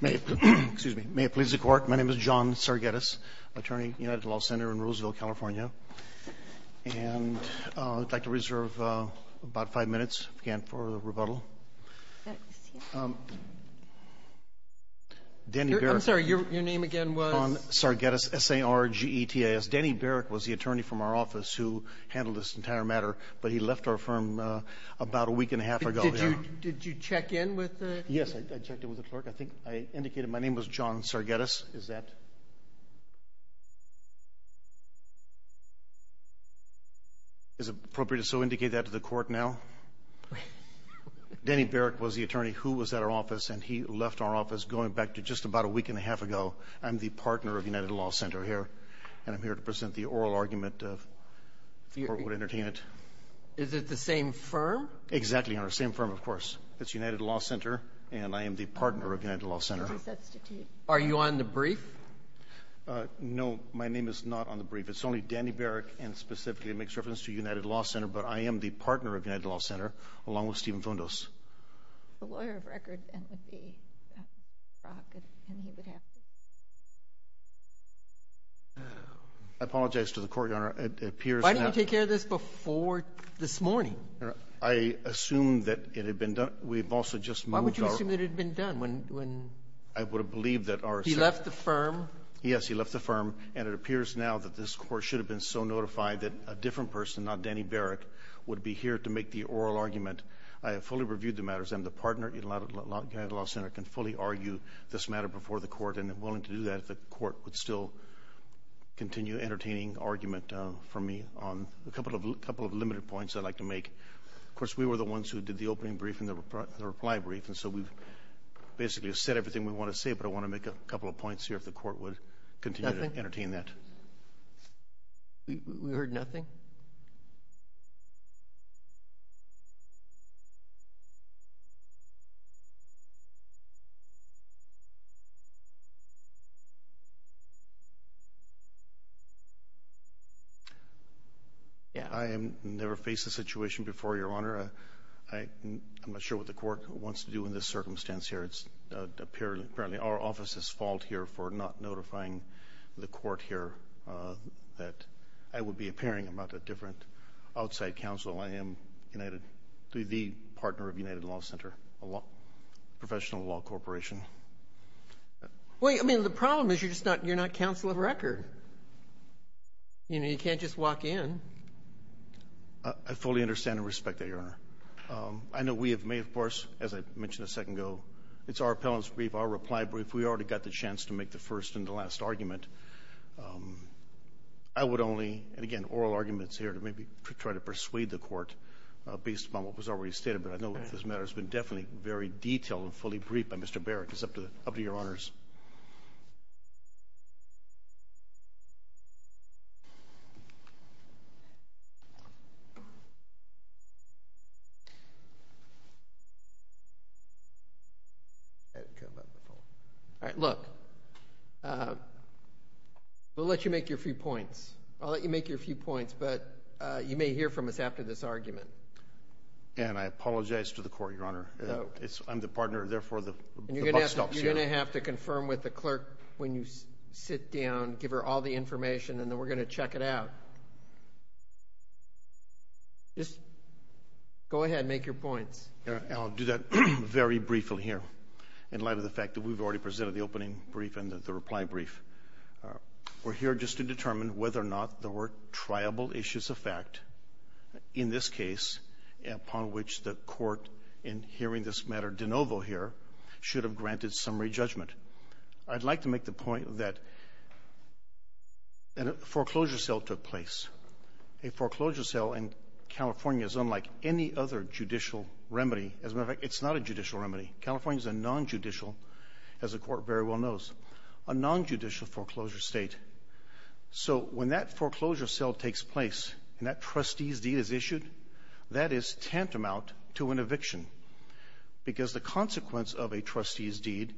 May it please the Court, my name is John Sargettis, attorney at United Law Center in Roseville, California. And I'd like to reserve about five minutes again for rebuttal. I'm sorry, your name again was? John Sargettis, S-A-R-G-E-T-T-I-S. Danny Baric was the attorney from our office who handled this entire matter, but he left our firm about a week and a half ago. Did you check in with the clerk? Yes, I checked in with the clerk. I indicated my name was John Sargettis. Is it appropriate to so indicate that to the Court now? Danny Baric was the attorney who was at our office, and he left our office going back to just about a week and a half ago. I'm the partner of United Law Center here, and I'm here to present the oral argument before we entertain it. Is it the same firm? Exactly, Your Honor, same firm, of course. It's United Law Center, and I am the partner of United Law Center. Are you on the brief? No, my name is not on the brief. It's only Danny Baric, and specifically it makes reference to United Law Center, but I am the partner of United Law Center, along with Stephen Fundos. The lawyer of record, then, would be Brock. I apologize to the Court, Your Honor. Why didn't you take care of this before this morning? I assumed that it had been done. We've also just moved our ---- Why would you assume that it had been done when ---- I would have believed that our ---- He left the firm? Yes, he left the firm. And it appears now that this Court should have been so notified that a different person, not Danny Baric, would be here to make the oral argument. I have fully reviewed the matters. I'm the partner at United Law Center. I can fully argue this matter before the Court, and am willing to do that if the Court would still continue entertaining argument for me on a couple of limited points I'd like to make. Of course, we were the ones who did the opening brief and the reply brief, and so we've basically said everything we want to say, but I want to make a couple of points here if the Court would continue to entertain that. We heard nothing. I have never faced this situation before, Your Honor. I'm not sure what the Court wants to do in this circumstance here. It's apparently our office's fault here for not notifying the Court here that I would be appearing about a different outside counsel. I am the partner of United Law Center, a professional law corporation. Well, I mean, the problem is you're not counsel of record. You know, you can't just walk in. I fully understand and respect that, Your Honor. I know we have made, of course, as I mentioned a second ago, it's our appellant's brief, our reply brief. We already got the chance to make the first and the last argument. I would only, and again, oral arguments here to maybe try to persuade the Court based upon what was already stated, but I know that this matter has been definitely very detailed and fully briefed by Mr. Barrick. It's up to Your Honors. All right, look, we'll let you make your few points. I'll let you make your few points, but you may hear from us after this argument. And I apologize to the Court, Your Honor. I'm the partner. Therefore, the buck stops here. You're going to have to confirm with the clerk when you sit down, give her all the information, and then we're going to check it out. Just go ahead and make your points. I'll do that very briefly here in light of the fact that we've already presented the opening brief and the reply brief. We're here just to determine whether or not there were triable issues of fact in this case upon which the Court, in hearing this matter de novo here, should have granted summary judgment. I'd like to make the point that a foreclosure sale took place. A foreclosure sale in California is unlike any other judicial remedy. As a matter of fact, it's not a judicial remedy. California is a nonjudicial, as the Court very well knows, a nonjudicial foreclosure state. So when that foreclosure sale takes place and that trustee's deed is issued, that is tantamount to an eviction because the consequence of a trustee's deed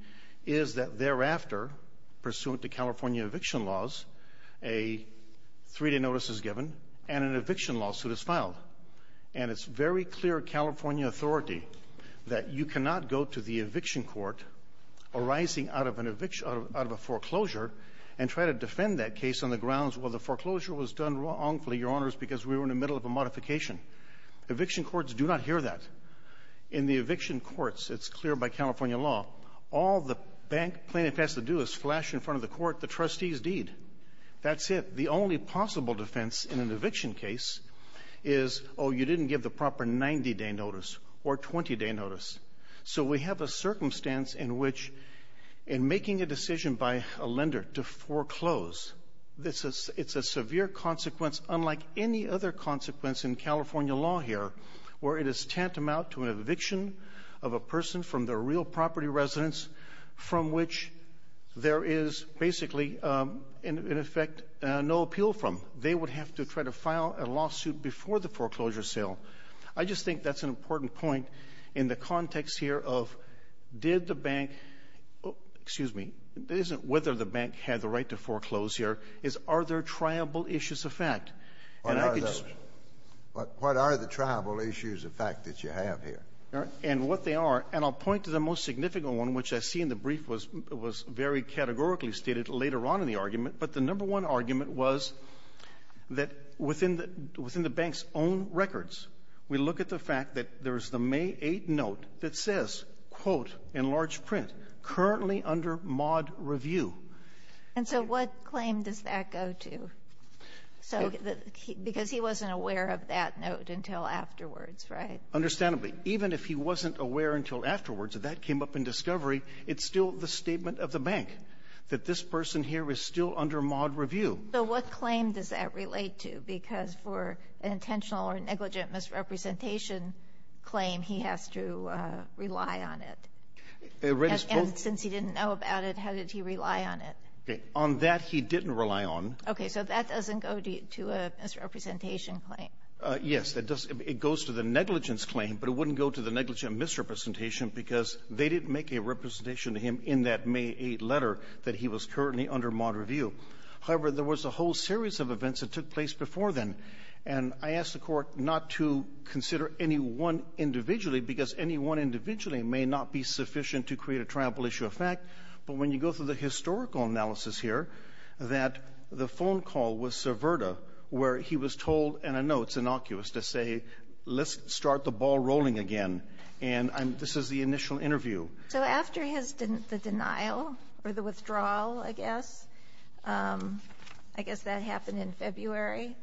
is that thereafter, pursuant to California eviction laws, a three-day notice is given and an eviction lawsuit is filed. And it's very clear California authority that you cannot go to the eviction court arising out of a foreclosure and try to defend that case on the grounds, well, the foreclosure was done wrongfully, Your Honors, because we were in the middle of a modification. Eviction courts do not hear that. In the eviction courts, it's clear by California law, all the bank plaintiff has to do is flash in front of the court the trustee's deed. That's it. The only possible defense in an eviction case is, oh, you didn't give the proper 90-day notice or 20-day notice. So we have a circumstance in which in making a decision by a lender to foreclose, it's a severe consequence unlike any other consequence in California law here where it is tantamount to an eviction of a person from their real property residence from which there is basically, in effect, no appeal from. They would have to try to file a lawsuit before the foreclosure sale. I just think that's an important point in the context here of did the bank, excuse me, it isn't whether the bank had the right to foreclose here, it's are there triable issues of fact. What are the triable issues of fact that you have here? And what they are, and I'll point to the most significant one, which I see in the brief was very categorically stated later on in the argument, but the number one argument was that within the bank's own records, we look at the fact that there's the May 8th note that says, quote, in large print, currently under mod review. And so what claim does that go to? Because he wasn't aware of that note until afterwards, right? Understandably. Even if he wasn't aware until afterwards, if that came up in discovery, it's still the statement of the bank that this person here is still under mod review. So what claim does that relate to? Because for an intentional or negligent misrepresentation claim, he has to rely on it. And since he didn't know about it, how did he rely on it? On that, he didn't rely on. Okay. So that doesn't go to a misrepresentation claim. Yes. It goes to the negligence claim, but it wouldn't go to the negligent misrepresentation because they didn't make a representation to him in that May 8th letter that he was currently under mod review. However, there was a whole series of events that took place before then. And I ask the Court not to consider any one individually because any one individually may not be sufficient to create a triumphal issue of fact. But when you go through the historical analysis here, that the phone call with Cerverta where he was told in a note, it's innocuous, to say, let's start the ball rolling again. And this is the initial interview. So after the denial or the withdrawal, I guess, I guess that happened in February,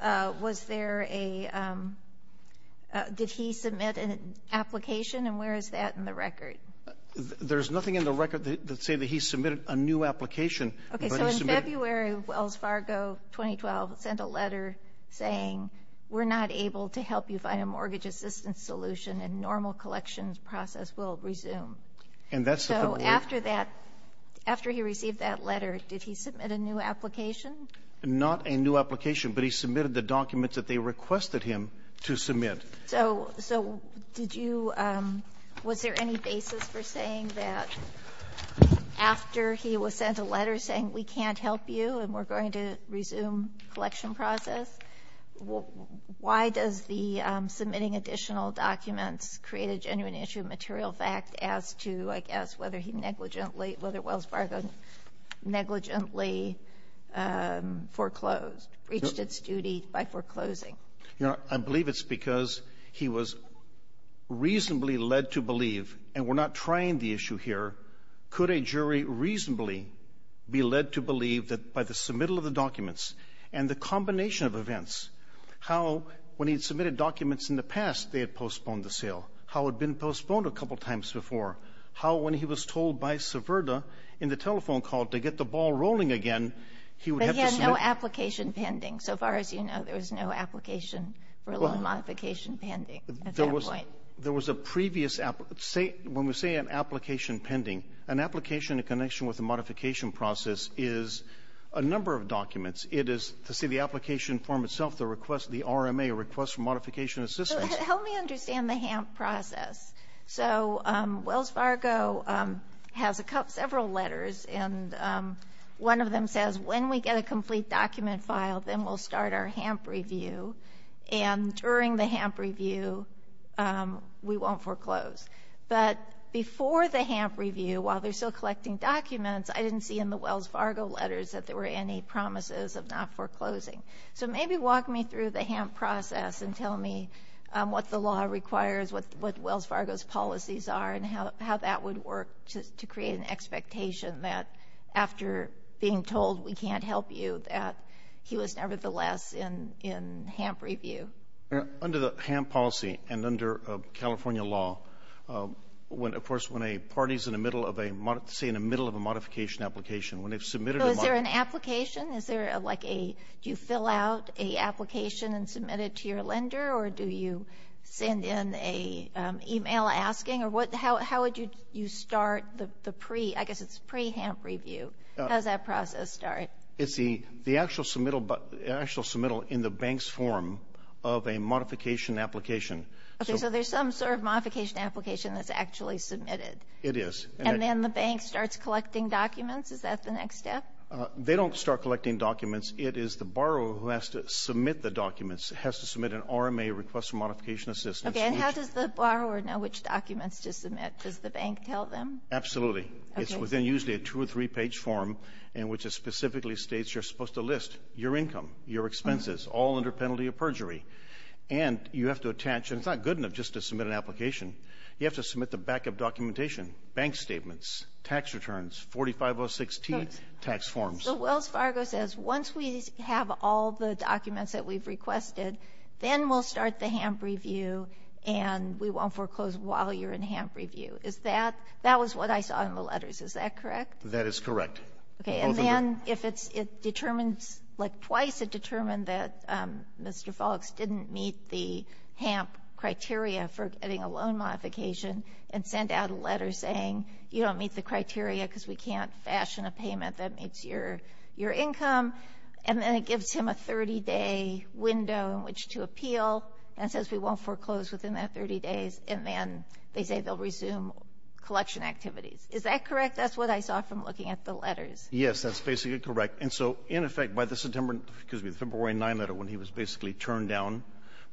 was there a – did he submit an application? And where is that in the record? There's nothing in the record that say that he submitted a new application. Okay. So in February of Wells Fargo 2012, he sent a letter saying, we're not able to help you and a mortgage assistance solution and normal collections process will resume. And that's the – So after that, after he received that letter, did he submit a new application? Not a new application, but he submitted the documents that they requested him to submit. So did you – was there any basis for saying that after he was sent a letter saying we can't help you and we're going to resume collection process, why does the Supreme Court, after submitting additional documents, create a genuine issue of material fact as to, I guess, whether he negligently – whether Wells Fargo negligently foreclosed, breached its duty by foreclosing? You know, I believe it's because he was reasonably led to believe, and we're not trying the issue here, could a jury reasonably be led to believe that by the submittal of the documents and the combination of events? How, when he had submitted documents in the past, they had postponed the sale. How it had been postponed a couple times before. How, when he was told by Severda in the telephone call to get the ball rolling again, he would have to submit – But he had no application pending. So far as you know, there was no application for a loan modification pending at that point. There was a previous – when we say an application pending, an application in connection with the modification process is a number of documents. It is, to see the application form itself, the request, the RMA, a request for modification assistance. So help me understand the HAMP process. So Wells Fargo has several letters, and one of them says, when we get a complete document filed, then we'll start our HAMP review. And during the HAMP review, we won't foreclose. But before the HAMP review, while they're still collecting documents, I didn't see in the Wells Fargo letters that there were any promises of not foreclosing. So maybe walk me through the HAMP process and tell me what the law requires, what Wells Fargo's policies are, and how that would work to create an expectation that after being told we can't help you, that he was nevertheless in HAMP review. Under the HAMP policy and under California law, when, of course, when a party's in the middle of a – say in the middle of a modification application, when they've submitted a – So is there an application? Is there like a – do you fill out an application and submit it to your lender, or do you send in an email asking? Or what – how would you start the pre – I guess it's pre-HAMP review. How does that process start? It's the actual submittal in the bank's form of a modification application. Okay. So there's some sort of modification application that's actually submitted. It is. And then the bank starts collecting documents? Is that the next step? They don't start collecting documents. It is the borrower who has to submit the documents, has to submit an RMA, request for modification assistance. Okay. And how does the borrower know which documents to submit? Does the bank tell them? Absolutely. Okay. So there's usually a two- or three-page form in which it specifically states you're supposed to list your income, your expenses, all under penalty of perjury. And you have to attach – and it's not good enough just to submit an application. You have to submit the backup documentation, bank statements, tax returns, 4506T tax forms. So Wells Fargo says, once we have all the documents that we've requested, then we'll start the HAMP review, and we won't foreclose while you're in HAMP review. Is that – that was what I saw in the letters. Is that correct? That is correct. Okay. And then if it's – it determines – like twice it determined that Mr. Falks didn't meet the HAMP criteria for getting a loan modification and sent out a letter saying you don't meet the criteria because we can't fashion a payment that meets your – your income. And then it gives him a 30-day window in which to appeal and says we won't foreclose within that 30 days. And then they say they'll resume collection activities. Is that correct? That's what I saw from looking at the letters. Yes. That's basically correct. And so, in effect, by the September – excuse me, the February 9th letter when he was basically turned down,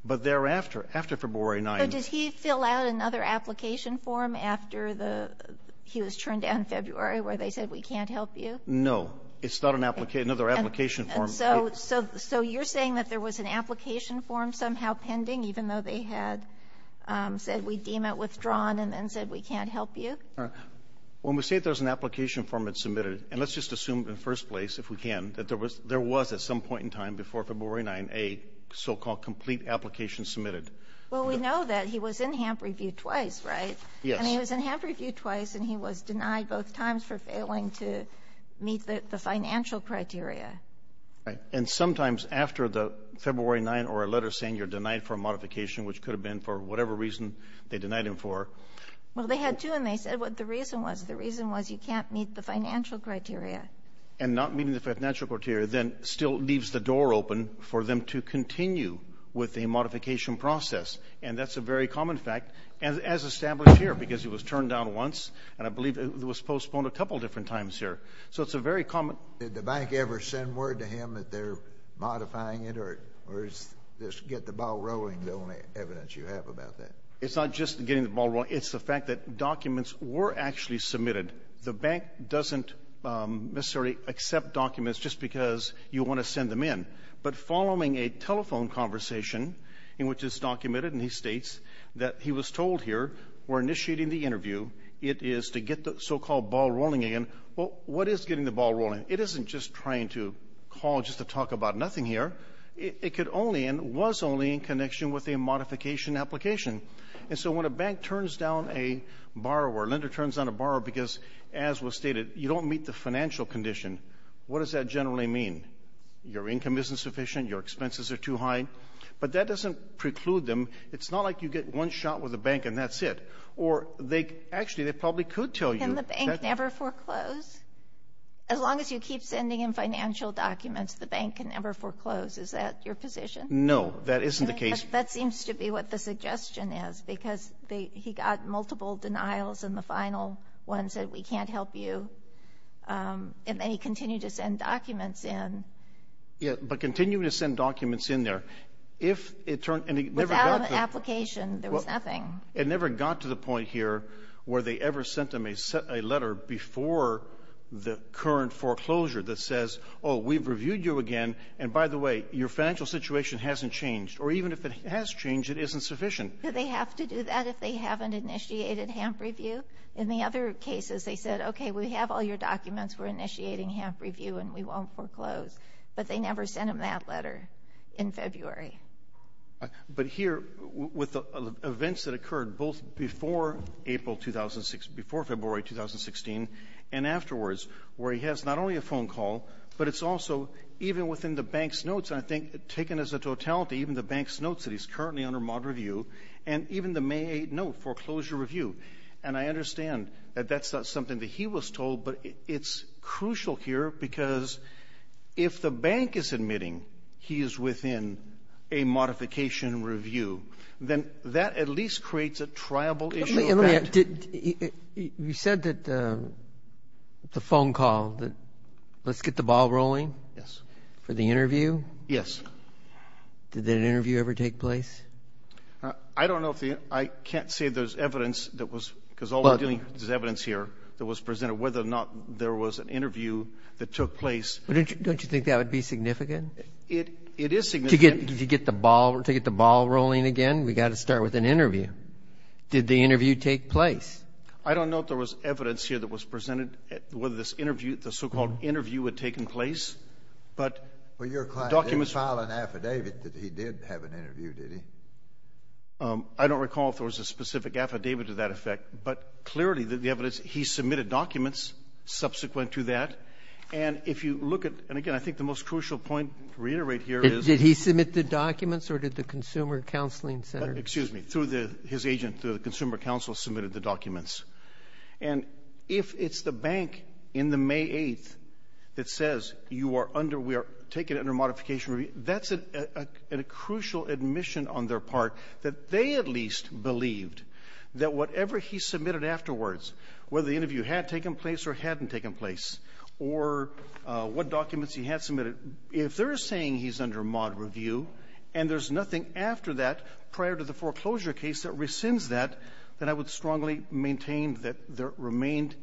but thereafter, after February 9th – So does he fill out another application form after the – he was turned down in February where they said we can't help you? No. It's not an – another application form. So – so you're saying that there was an application form somehow pending even though they had said we deem it withdrawn and then said we can't help you? All right. When we say there's an application form that's submitted – and let's just assume in the first place, if we can, that there was – there was at some point in time before February 9th a so-called complete application submitted. Well, we know that. He was in HAMP reviewed twice, right? Yes. And he was in HAMP reviewed twice and he was denied both times for failing to meet the financial criteria. Right. And sometimes after the February 9th or a letter saying you're denied for a modification, which could have been for whatever reason they denied him for – Well, they had to and they said what the reason was. The reason was you can't meet the financial criteria. And not meeting the financial criteria then still leaves the door open for them to continue with a modification process. And that's a very common fact, as established here, because he was turned down once and I believe it was postponed a couple of different times here. So it's a very common – Did the bank ever send word to him that they're modifying it or is this get the ball rolling the only evidence you have about that? It's not just getting the ball rolling. It's the fact that documents were actually submitted. The bank doesn't necessarily accept documents just because you want to send them in. But following a telephone conversation in which it's documented and he states that he was told here, we're initiating the interview. It is to get the so-called ball rolling again. Well, what is getting the ball rolling? It isn't just trying to call just to talk about nothing here. It could only and was only in connection with a modification application. And so when a bank turns down a borrower, lender turns down a borrower because, as was stated, you don't meet the financial condition. What does that generally mean? Your income isn't sufficient. Your expenses are too high. But that doesn't preclude them. It's not like you get one shot with a bank and that's it. Or they – actually, they probably could tell you – Can the bank never foreclose? As long as you keep sending in financial documents, the bank can never foreclose. Is that your position? No, that isn't the case. That seems to be what the suggestion is because he got multiple denials and the final one said, we can't help you. And then he continued to send documents in. Yeah, but continuing to send documents in there, if it turned – Without an application, there was nothing. It never got to the point here where they ever sent him a letter before the current foreclosure that says, oh, we've reviewed you again, and by the way, your financial situation hasn't changed. Or even if it has changed, it isn't sufficient. Do they have to do that if they haven't initiated HAMP review? In the other cases, they said, okay, we have all your documents. We're initiating HAMP review and we won't foreclose. But they never sent him that letter in February. But here, with the events that occurred both before April 2016 – before February 2016 and afterwards, where he has not only a phone call, but it's also even within the bank's notes, and I think taken as a totality, even the bank's notes that he's currently under mod review, and even the May 8 note, foreclosure review. And I understand that that's not something that he was told, but it's crucial here because if the bank is admitting he is within a modification review, then that at least creates a triable issue. You said that the phone call, let's get the ball rolling for the interview. Yes. Did that interview ever take place? I don't know if the – I can't say there's evidence that was – because all we're there was an interview that took place. Don't you think that would be significant? It is significant. To get the ball rolling again, we've got to start with an interview. Did the interview take place? I don't know if there was evidence here that was presented, whether this interview, the so-called interview had taken place. But the documents – Well, your client didn't file an affidavit that he did have an interview, did he? I don't recall if there was a specific affidavit to that effect. But clearly, the evidence – he submitted documents subsequent to that. And if you look at – and again, I think the most crucial point to reiterate here is – Did he submit the documents or did the Consumer Counseling Center? Excuse me. Through the – his agent, the Consumer Counsel, submitted the documents. And if it's the bank in the May 8th that says you are under – we are taking it under modification review, that's a crucial admission on their part that they at least believed that whatever he submitted afterwards, whether the interview had taken place or hadn't taken place, or what documents he had submitted, if they're saying he's under mod review and there's nothing after that prior to the foreclosure case that rescinds that, then I would strongly maintain that there remained,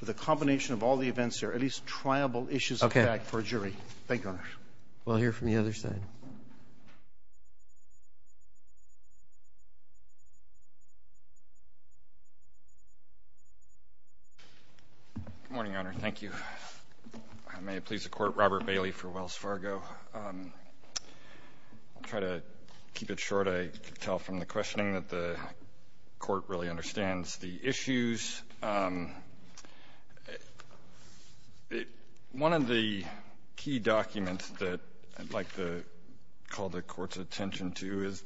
with a combination of all the events here, at least triable issues of fact for a jury. Thank you, Your Honor. We'll hear from the other side. Good morning, Your Honor. Thank you. May it please the Court, Robert Bailey for Wells Fargo. I'll try to keep it short. I can tell from the questioning that the Court really understands the issues. One of the key documents that I'd like to call the Court's attention to is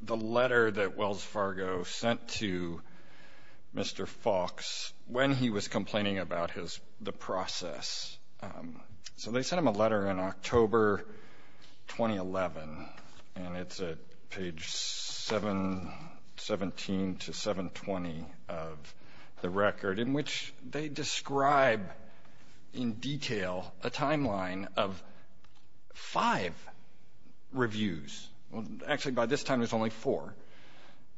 the letter that Wells Fargo sent to Mr. Fox when he was complaining about his – the process. So they sent him a letter in October 2011, and it's at page 17 to 720 of the record, in which they describe in detail a timeline of five reviews. Actually, by this time, there's only four.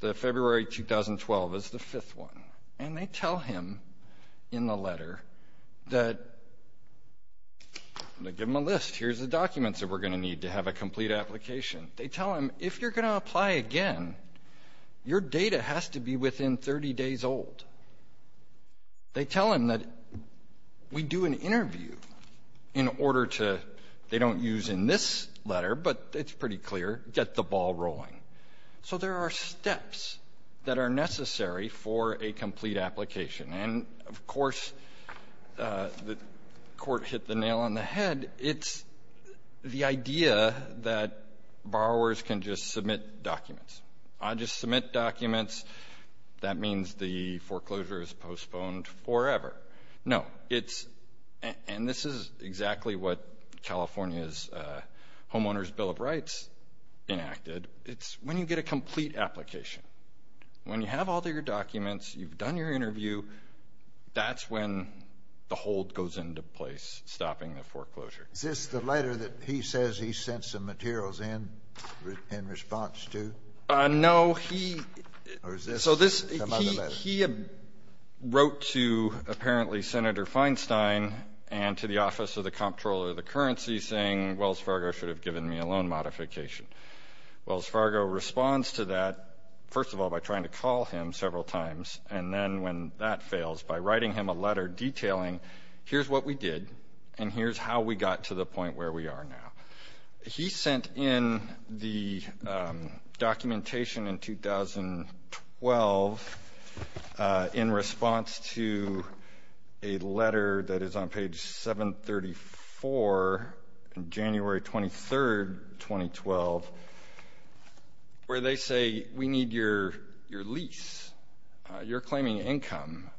The February 2012 is the fifth one, and they tell him in the letter that – they give him a list. Here's the documents that we're going to need to have a complete application. They tell him, if you're going to apply again, your data has to be within 30 days old. They tell him that we do an interview in order to – they don't use in this letter, but it's pretty clear, get the ball rolling. So there are steps that are necessary for a complete application. And, of course, the Court hit the nail on the head. It's the idea that borrowers can just submit documents. I just submit documents. That means the foreclosure is postponed forever. No, it's – and this is exactly what California's Homeowners' Bill of Rights enacted. It's when you get a complete application. When you have all of your documents, you've done your interview, that's when the hold goes into place, stopping the foreclosure. Is this the letter that he says he sent some materials in in response to? No, he – Or is this some other letter? He wrote to, apparently, Senator Feinstein and to the Office of the Comptroller of the Currency saying, Wells Fargo should have given me a loan modification. Wells Fargo responds to that, first of all, by trying to call him several times, and then when that fails, by writing him a letter detailing, here's what we did and here's how we got to the point where we are now. He sent in the documentation in 2012 in response to a letter that is on page 734, January 23, 2012, where they say, we need your lease. You're claiming income.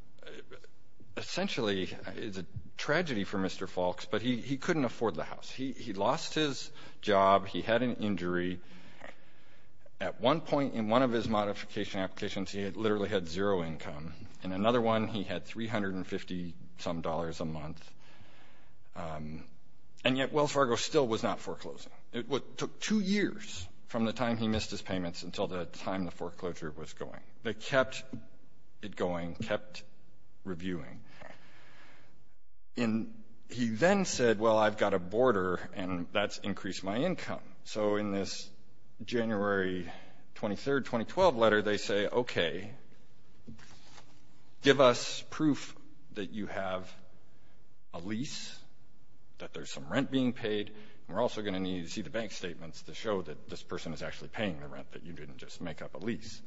Essentially, it's a tragedy for Mr. Falks, but he couldn't afford the house. He lost his job. He had an injury. At one point in one of his modification applications, he literally had zero income. In another one, he had $350-some a month, and yet Wells Fargo still was not foreclosing. It took two years from the time he missed his payments until the time the foreclosure was going. They kept it going, kept reviewing. He then said, well, I've got a border, and that's increased my income. So in this January 23, 2012 letter, they say, okay, give us proof that you have a lease, that there's some rent being paid, and we're also going to need to see the bank statements to show that this person is actually paying the rent, that you didn't just make up a lease.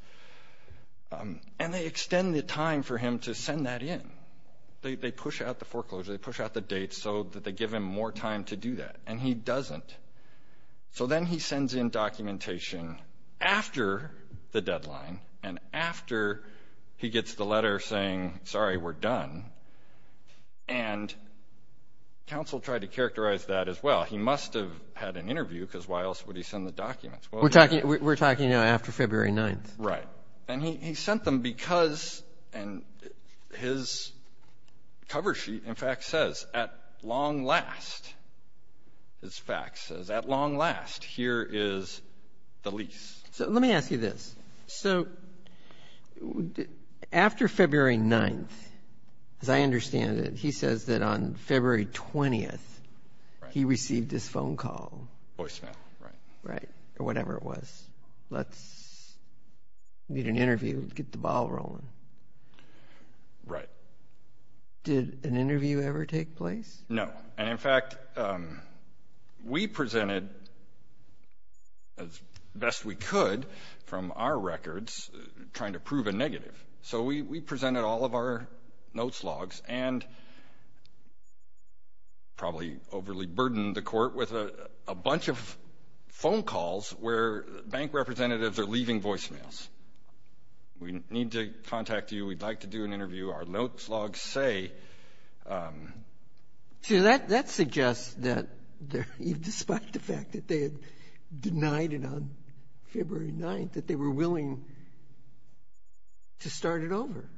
And they extend the time for him to send that in. They push out the foreclosure. They push out the dates so that they give him more time to do that, and he doesn't. So then he sends in documentation after the deadline and after he gets the letter saying, sorry, we're done, and counsel tried to characterize that as well. He must have had an interview because why else would he send the documents? We're talking now after February 9th. Right. And he sent them because his cover sheet, in fact, says, at long last, his fax says, at long last, here is the lease. So let me ask you this. So after February 9th, as I understand it, he says that on February 20th he received his phone call. Voicemail, right. Right, or whatever it was. Let's meet and interview, get the ball rolling. Right. Did an interview ever take place? No. And, in fact, we presented as best we could from our records trying to prove a negative. So we presented all of our notes logs and probably overly burdened the court with a bunch of phone calls where bank representatives are leaving voicemails. We need to contact you. We'd like to do an interview. Our notes logs say. See, that suggests that despite the fact that they had denied it on February 9th, that they were willing to start it over.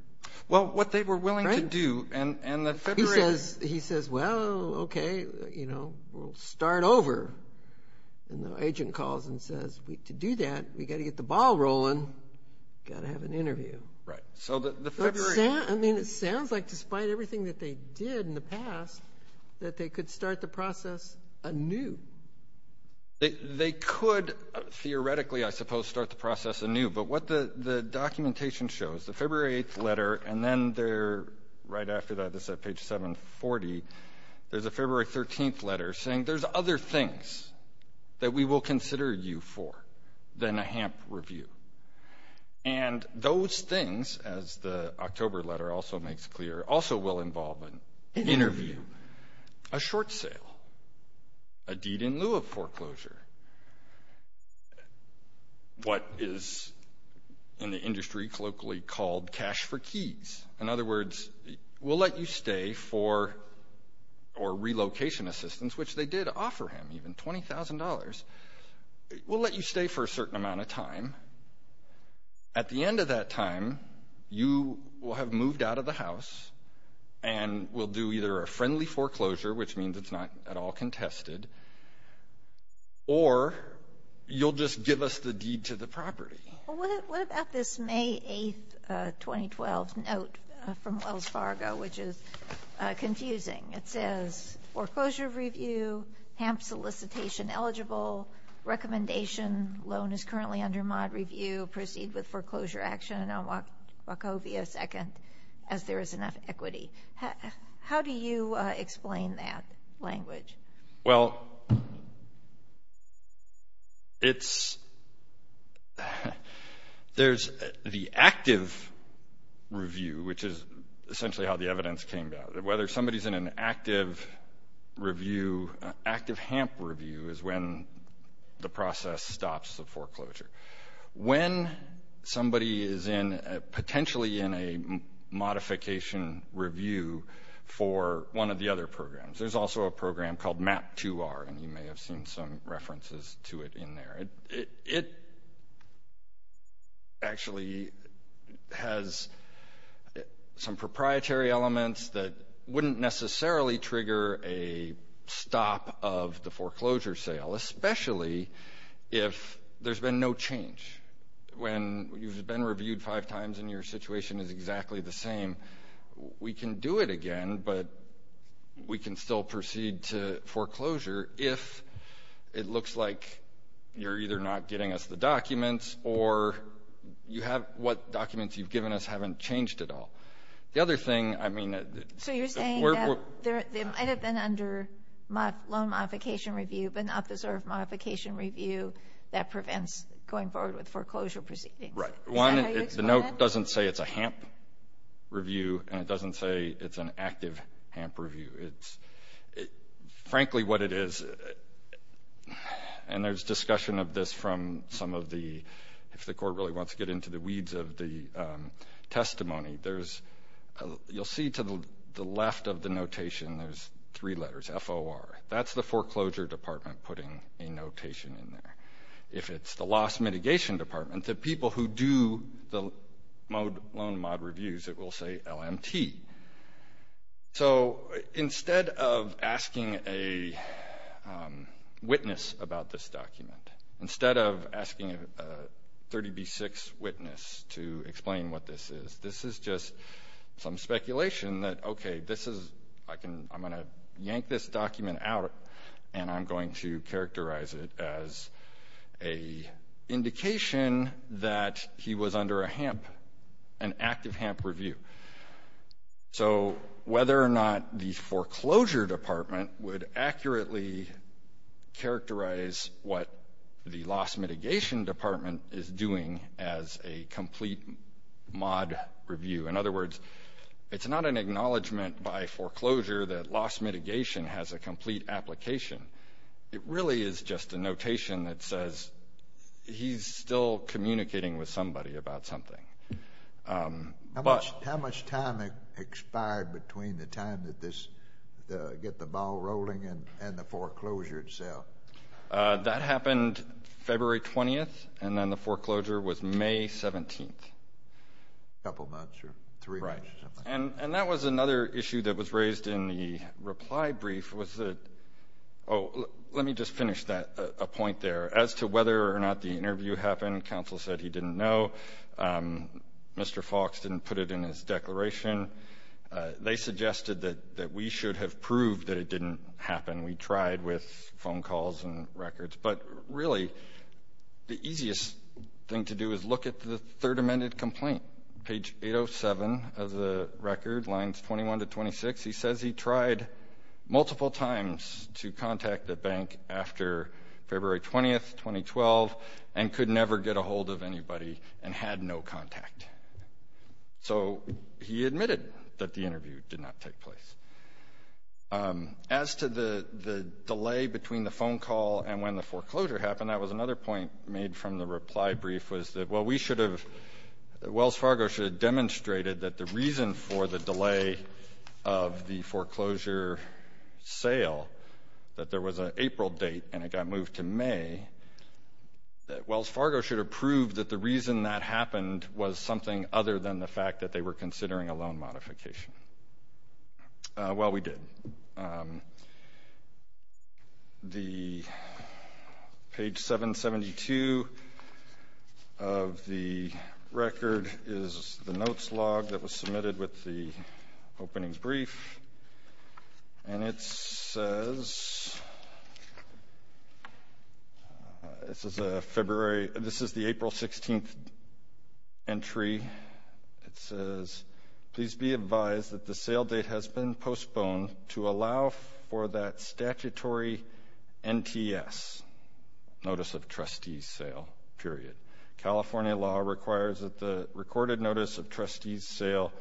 Well, what they were willing to do, and the February. He says, well, okay, we'll start over. And the agent calls and says, to do that, we've got to get the ball rolling, got to have an interview. Right, so the February. I mean, it sounds like despite everything that they did in the past, that they could start the process anew. They could theoretically, I suppose, start the process anew. But what the documentation shows, the February 8th letter, and then right after that, this is at page 740, there's a February 13th letter saying, there's other things that we will consider you for than a HAMP review. And those things, as the October letter also makes clear, also will involve an interview, a short sale, a deed in lieu of foreclosure, what is in the industry colloquially called cash for keys. In other words, we'll let you stay for, or relocation assistance, which they did offer him, even $20,000. We'll let you stay for a certain amount of time. At the end of that time, you will have moved out of the house and will do either a friendly foreclosure, which means it's not at all contested, or you'll just give us the deed to the property. What about this May 8th, 2012 note from Wells Fargo, which is confusing? It says, foreclosure review, HAMP solicitation eligible, recommendation, loan is currently under mod review, proceed with foreclosure action on Wachovia 2nd as there is enough equity. How do you explain that language? Well, there's the active review, which is essentially how the evidence came about. Whether somebody's in an active review, active HAMP review is when the process stops the foreclosure. When somebody is potentially in a modification review for one of the other programs, there's also a program called MAP2R, and you may have seen some references to it in there. It actually has some proprietary elements that wouldn't necessarily trigger a stop of the foreclosure sale, especially if there's been no change. When you've been reviewed five times and your situation is exactly the same, we can do it again, but we can still proceed to foreclosure if it looks like you're either not getting us the documents or what documents you've given us haven't changed at all. So you're saying that they might have been under loan modification review but not the sort of modification review that prevents going forward with foreclosure proceedings. Is that how you explain that? The note doesn't say it's a HAMP review, and it doesn't say it's an active HAMP review. Frankly what it is, and there's discussion of this from some of the, if the court really wants to get into the weeds of the testimony, you'll see to the left of the notation there's three letters, F-O-R. That's the foreclosure department putting a notation in there. If it's the loss mitigation department, the people who do the loan mod reviews, it will say LMT. So instead of asking a witness about this document, instead of asking a 30B6 witness to explain what this is, this is just some speculation that, okay, I'm going to yank this document out and I'm going to characterize it as an indication that he was under a HAMP, an active HAMP review. So whether or not the foreclosure department would accurately characterize what the loss mitigation department is doing as a complete mod review. In other words, it's not an acknowledgment by foreclosure that loss mitigation has a complete application. It really is just a notation that says he's still communicating with somebody about something. How much time expired between the time that this got the ball rolling and the foreclosure itself? That happened February 20th, and then the foreclosure was May 17th. A couple months or three months or something. Right. And that was another issue that was raised in the reply brief was that, oh, let me just finish a point there. As to whether or not the interview happened, counsel said he didn't know. Mr. Fox didn't put it in his declaration. They suggested that we should have proved that it didn't happen. We tried with phone calls and records. But, really, the easiest thing to do is look at the third amended complaint, page 807 of the record, lines 21 to 26. He says he tried multiple times to contact the bank after February 20th, 2012, and could never get a hold of anybody and had no contact. So he admitted that the interview did not take place. As to the delay between the phone call and when the foreclosure happened, that was another point made from the reply brief was that, well, we should have, Wells Fargo should have demonstrated that the reason for the delay of the foreclosure sale, that there was an April date and it got moved to May, Wells Fargo should have proved that the reason that happened was something other than the fact that they were Well, we did. The page 772 of the record is the notes log that was submitted with the openings brief. And it says, this is a February, this is the April 16th entry. It says, please be advised that the sale date has been postponed to allow for that statutory NTS, Notice of Trustees Sale, period. California law requires that the recorded Notice of Trustees Sale,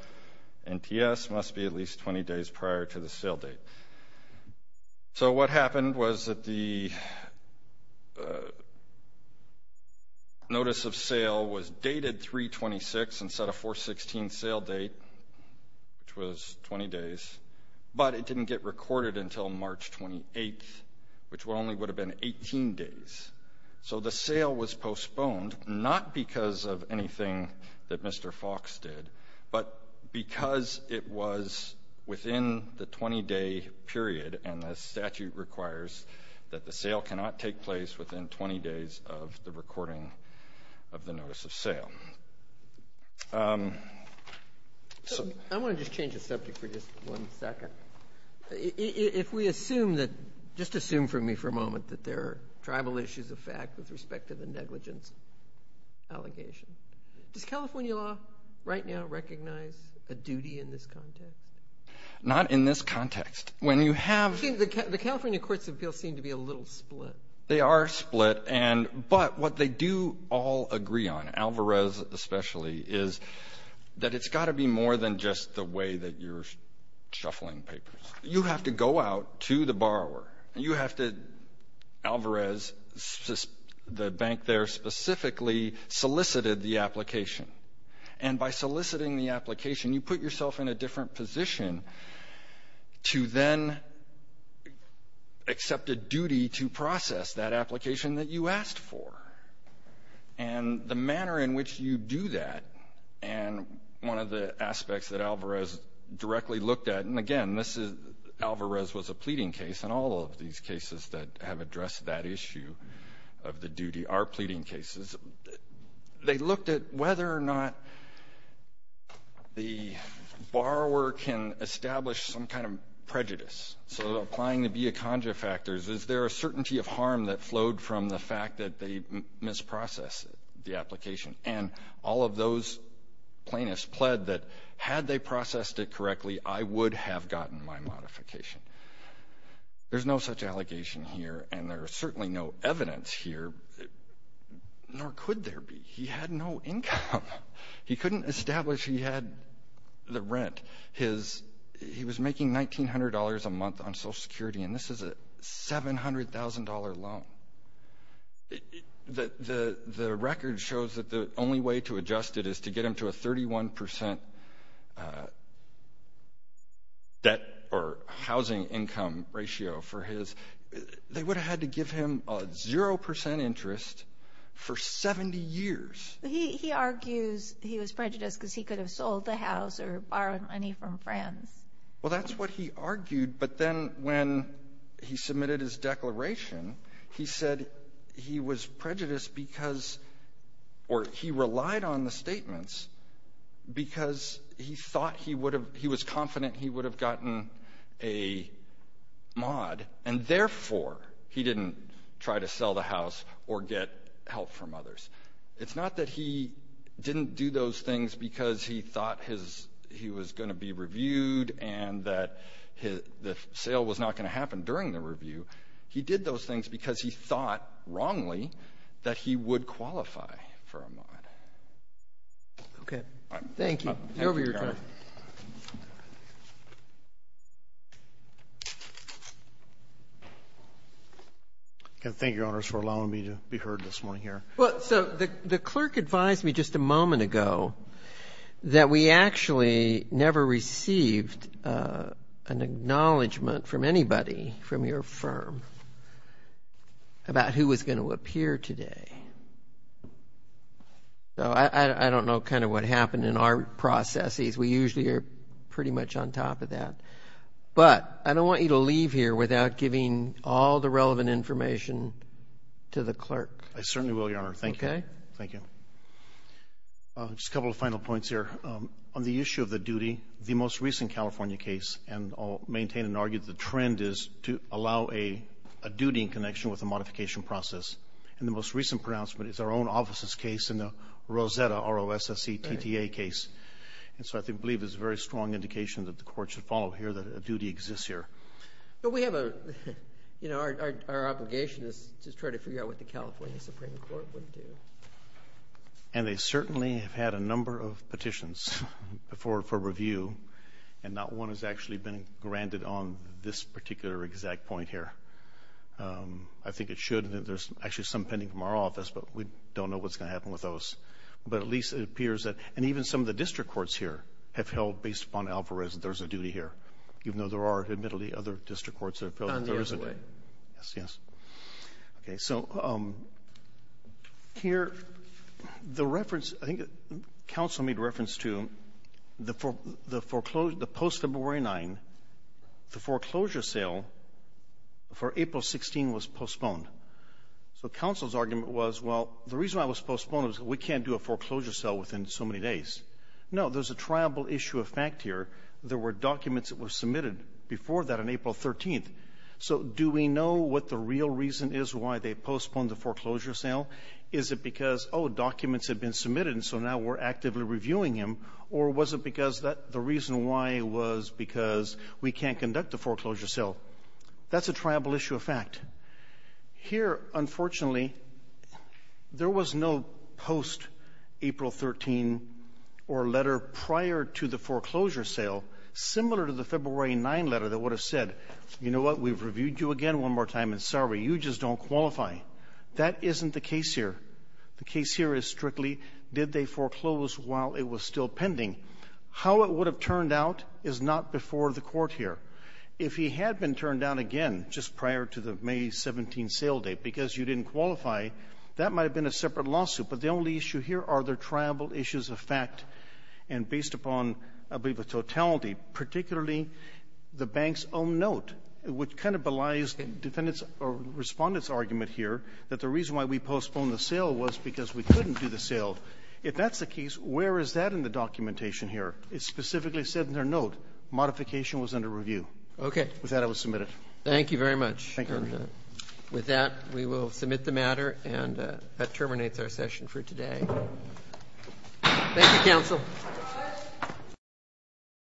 NTS, must be at least 20 days prior to the sale date. So what happened was that the Notice of Sale was dated 3-26 instead of 4-16 sale date, which was 20 days, but it didn't get recorded until March 28th, which only would have been 18 days. So the sale was postponed, not because of anything that Mr. Fox did, but because it was within the 20-day period, and the statute requires that the sale cannot take place within 20 days of the recording of the Notice of Sale. I want to just change the subject for just one second. If we assume that, just assume for me for a moment, that there are tribal issues of fact with respect to the negligence allegation, does California law right now recognize a duty in this context? Not in this context. The California Courts of Appeals seem to be a little split. They are split, but what they do all agree on, Alvarez especially, is that it's got to be more than just the way that you're shuffling papers. You have to go out to the borrower. Alvarez, the bank there specifically, solicited the application, and by soliciting the application you put yourself in a different position to then accept a duty to process that application that you asked for. And the manner in which you do that, and one of the aspects that Alvarez directly looked at, and, again, Alvarez was a pleading case, and all of these cases that have addressed that issue of the duty are pleading cases. They looked at whether or not the borrower can establish some kind of prejudice. So applying the Biaconga factors, is there a certainty of harm that flowed from the fact that they misprocessed the application? And all of those plaintiffs pled that had they processed it correctly, I would have gotten my modification. There's no such allegation here, and there's certainly no evidence here, nor could there be. He had no income. He couldn't establish he had the rent. He was making $1,900 a month on Social Security, and this is a $700,000 loan. The record shows that the only way to adjust it is to get him to a 31% debt or housing income ratio. They would have had to give him a 0% interest for 70 years. He argues he was prejudiced because he could have sold the house or borrowed money from friends. Well, that's what he argued. But then when he submitted his declaration, he said he was prejudiced because or he relied on the statements because he was confident he would have gotten a mod, and therefore he didn't try to sell the house or get help from others. It's not that he didn't do those things because he thought he was going to be reviewed and that the sale was not going to happen during the review. He did those things because he thought wrongly that he would qualify for a mod. Okay. Thank you. Over to you, Your Honor. Thank you, Your Honors, for allowing me to be heard this morning here. Well, so the clerk advised me just a moment ago that we actually never received an acknowledgement from anybody from your firm about who was going to appear today. So I don't know kind of what happened in our processes. We usually are pretty much on top of that. But I don't want you to leave here without giving all the relevant information to the clerk. I certainly will, Your Honor. Thank you. Okay. Thank you. Just a couple of final points here. On the issue of the duty, the most recent California case, and I'll maintain and argue the trend is to allow a duty in connection with a modification process. And the most recent pronouncement is our own office's case in the Rosetta, R-O-S-S-E-T-T-A case. And so I believe there's a very strong indication that the Court should follow here that a duty exists here. But we have a, you know, our obligation is to try to figure out what the California Supreme Court would do. And they certainly have had a number of petitions for review, and not one has actually been granted on this particular exact point here. I think it should, and there's actually some pending from our office, but we don't know what's going to happen with those. But at least it appears that, and even some of the district courts here have held, based upon Alvarez, that there's a duty here. Even though there are, admittedly, other district courts that have held that there isn't. On the other way. Yes, yes. Okay. So here, the reference, I think counsel made reference to the post-February 9, the foreclosure sale for April 16 was postponed. So counsel's argument was, well, the reason why it was postponed was we can't do a foreclosure sale within so many days. No, there's a triable issue of fact here. There were documents that were submitted before that on April 13th. So do we know what the real reason is why they postponed the foreclosure sale? Is it because, oh, documents had been submitted, and so now we're actively reviewing them, or was it because the reason why was because we can't conduct a foreclosure sale? That's a triable issue of fact. Here, unfortunately, there was no post-April 13 or letter prior to the foreclosure sale similar to the February 9 letter that would have said, you know what, we've reviewed you again one more time, and sorry, you just don't qualify. That isn't the case here. The case here is strictly did they foreclose while it was still pending. How it would have turned out is not before the Court here. If he had been turned down again just prior to the May 17th sale date because you didn't qualify, that might have been a separate lawsuit. But the only issue here are the triable issues of fact, and based upon, I believe, a totality, particularly the bank's own note, which kind of belies the defendant's or Respondent's argument here that the reason why we postponed the sale was because we couldn't do the sale. If that's the case, where is that in the documentation here? It specifically said in their note, modification was under review. Okay. With that, I will submit it. Thank you very much. Thank you, Your Honor. With that, we will submit the matter, and that terminates our session for today. Thank you, Counsel.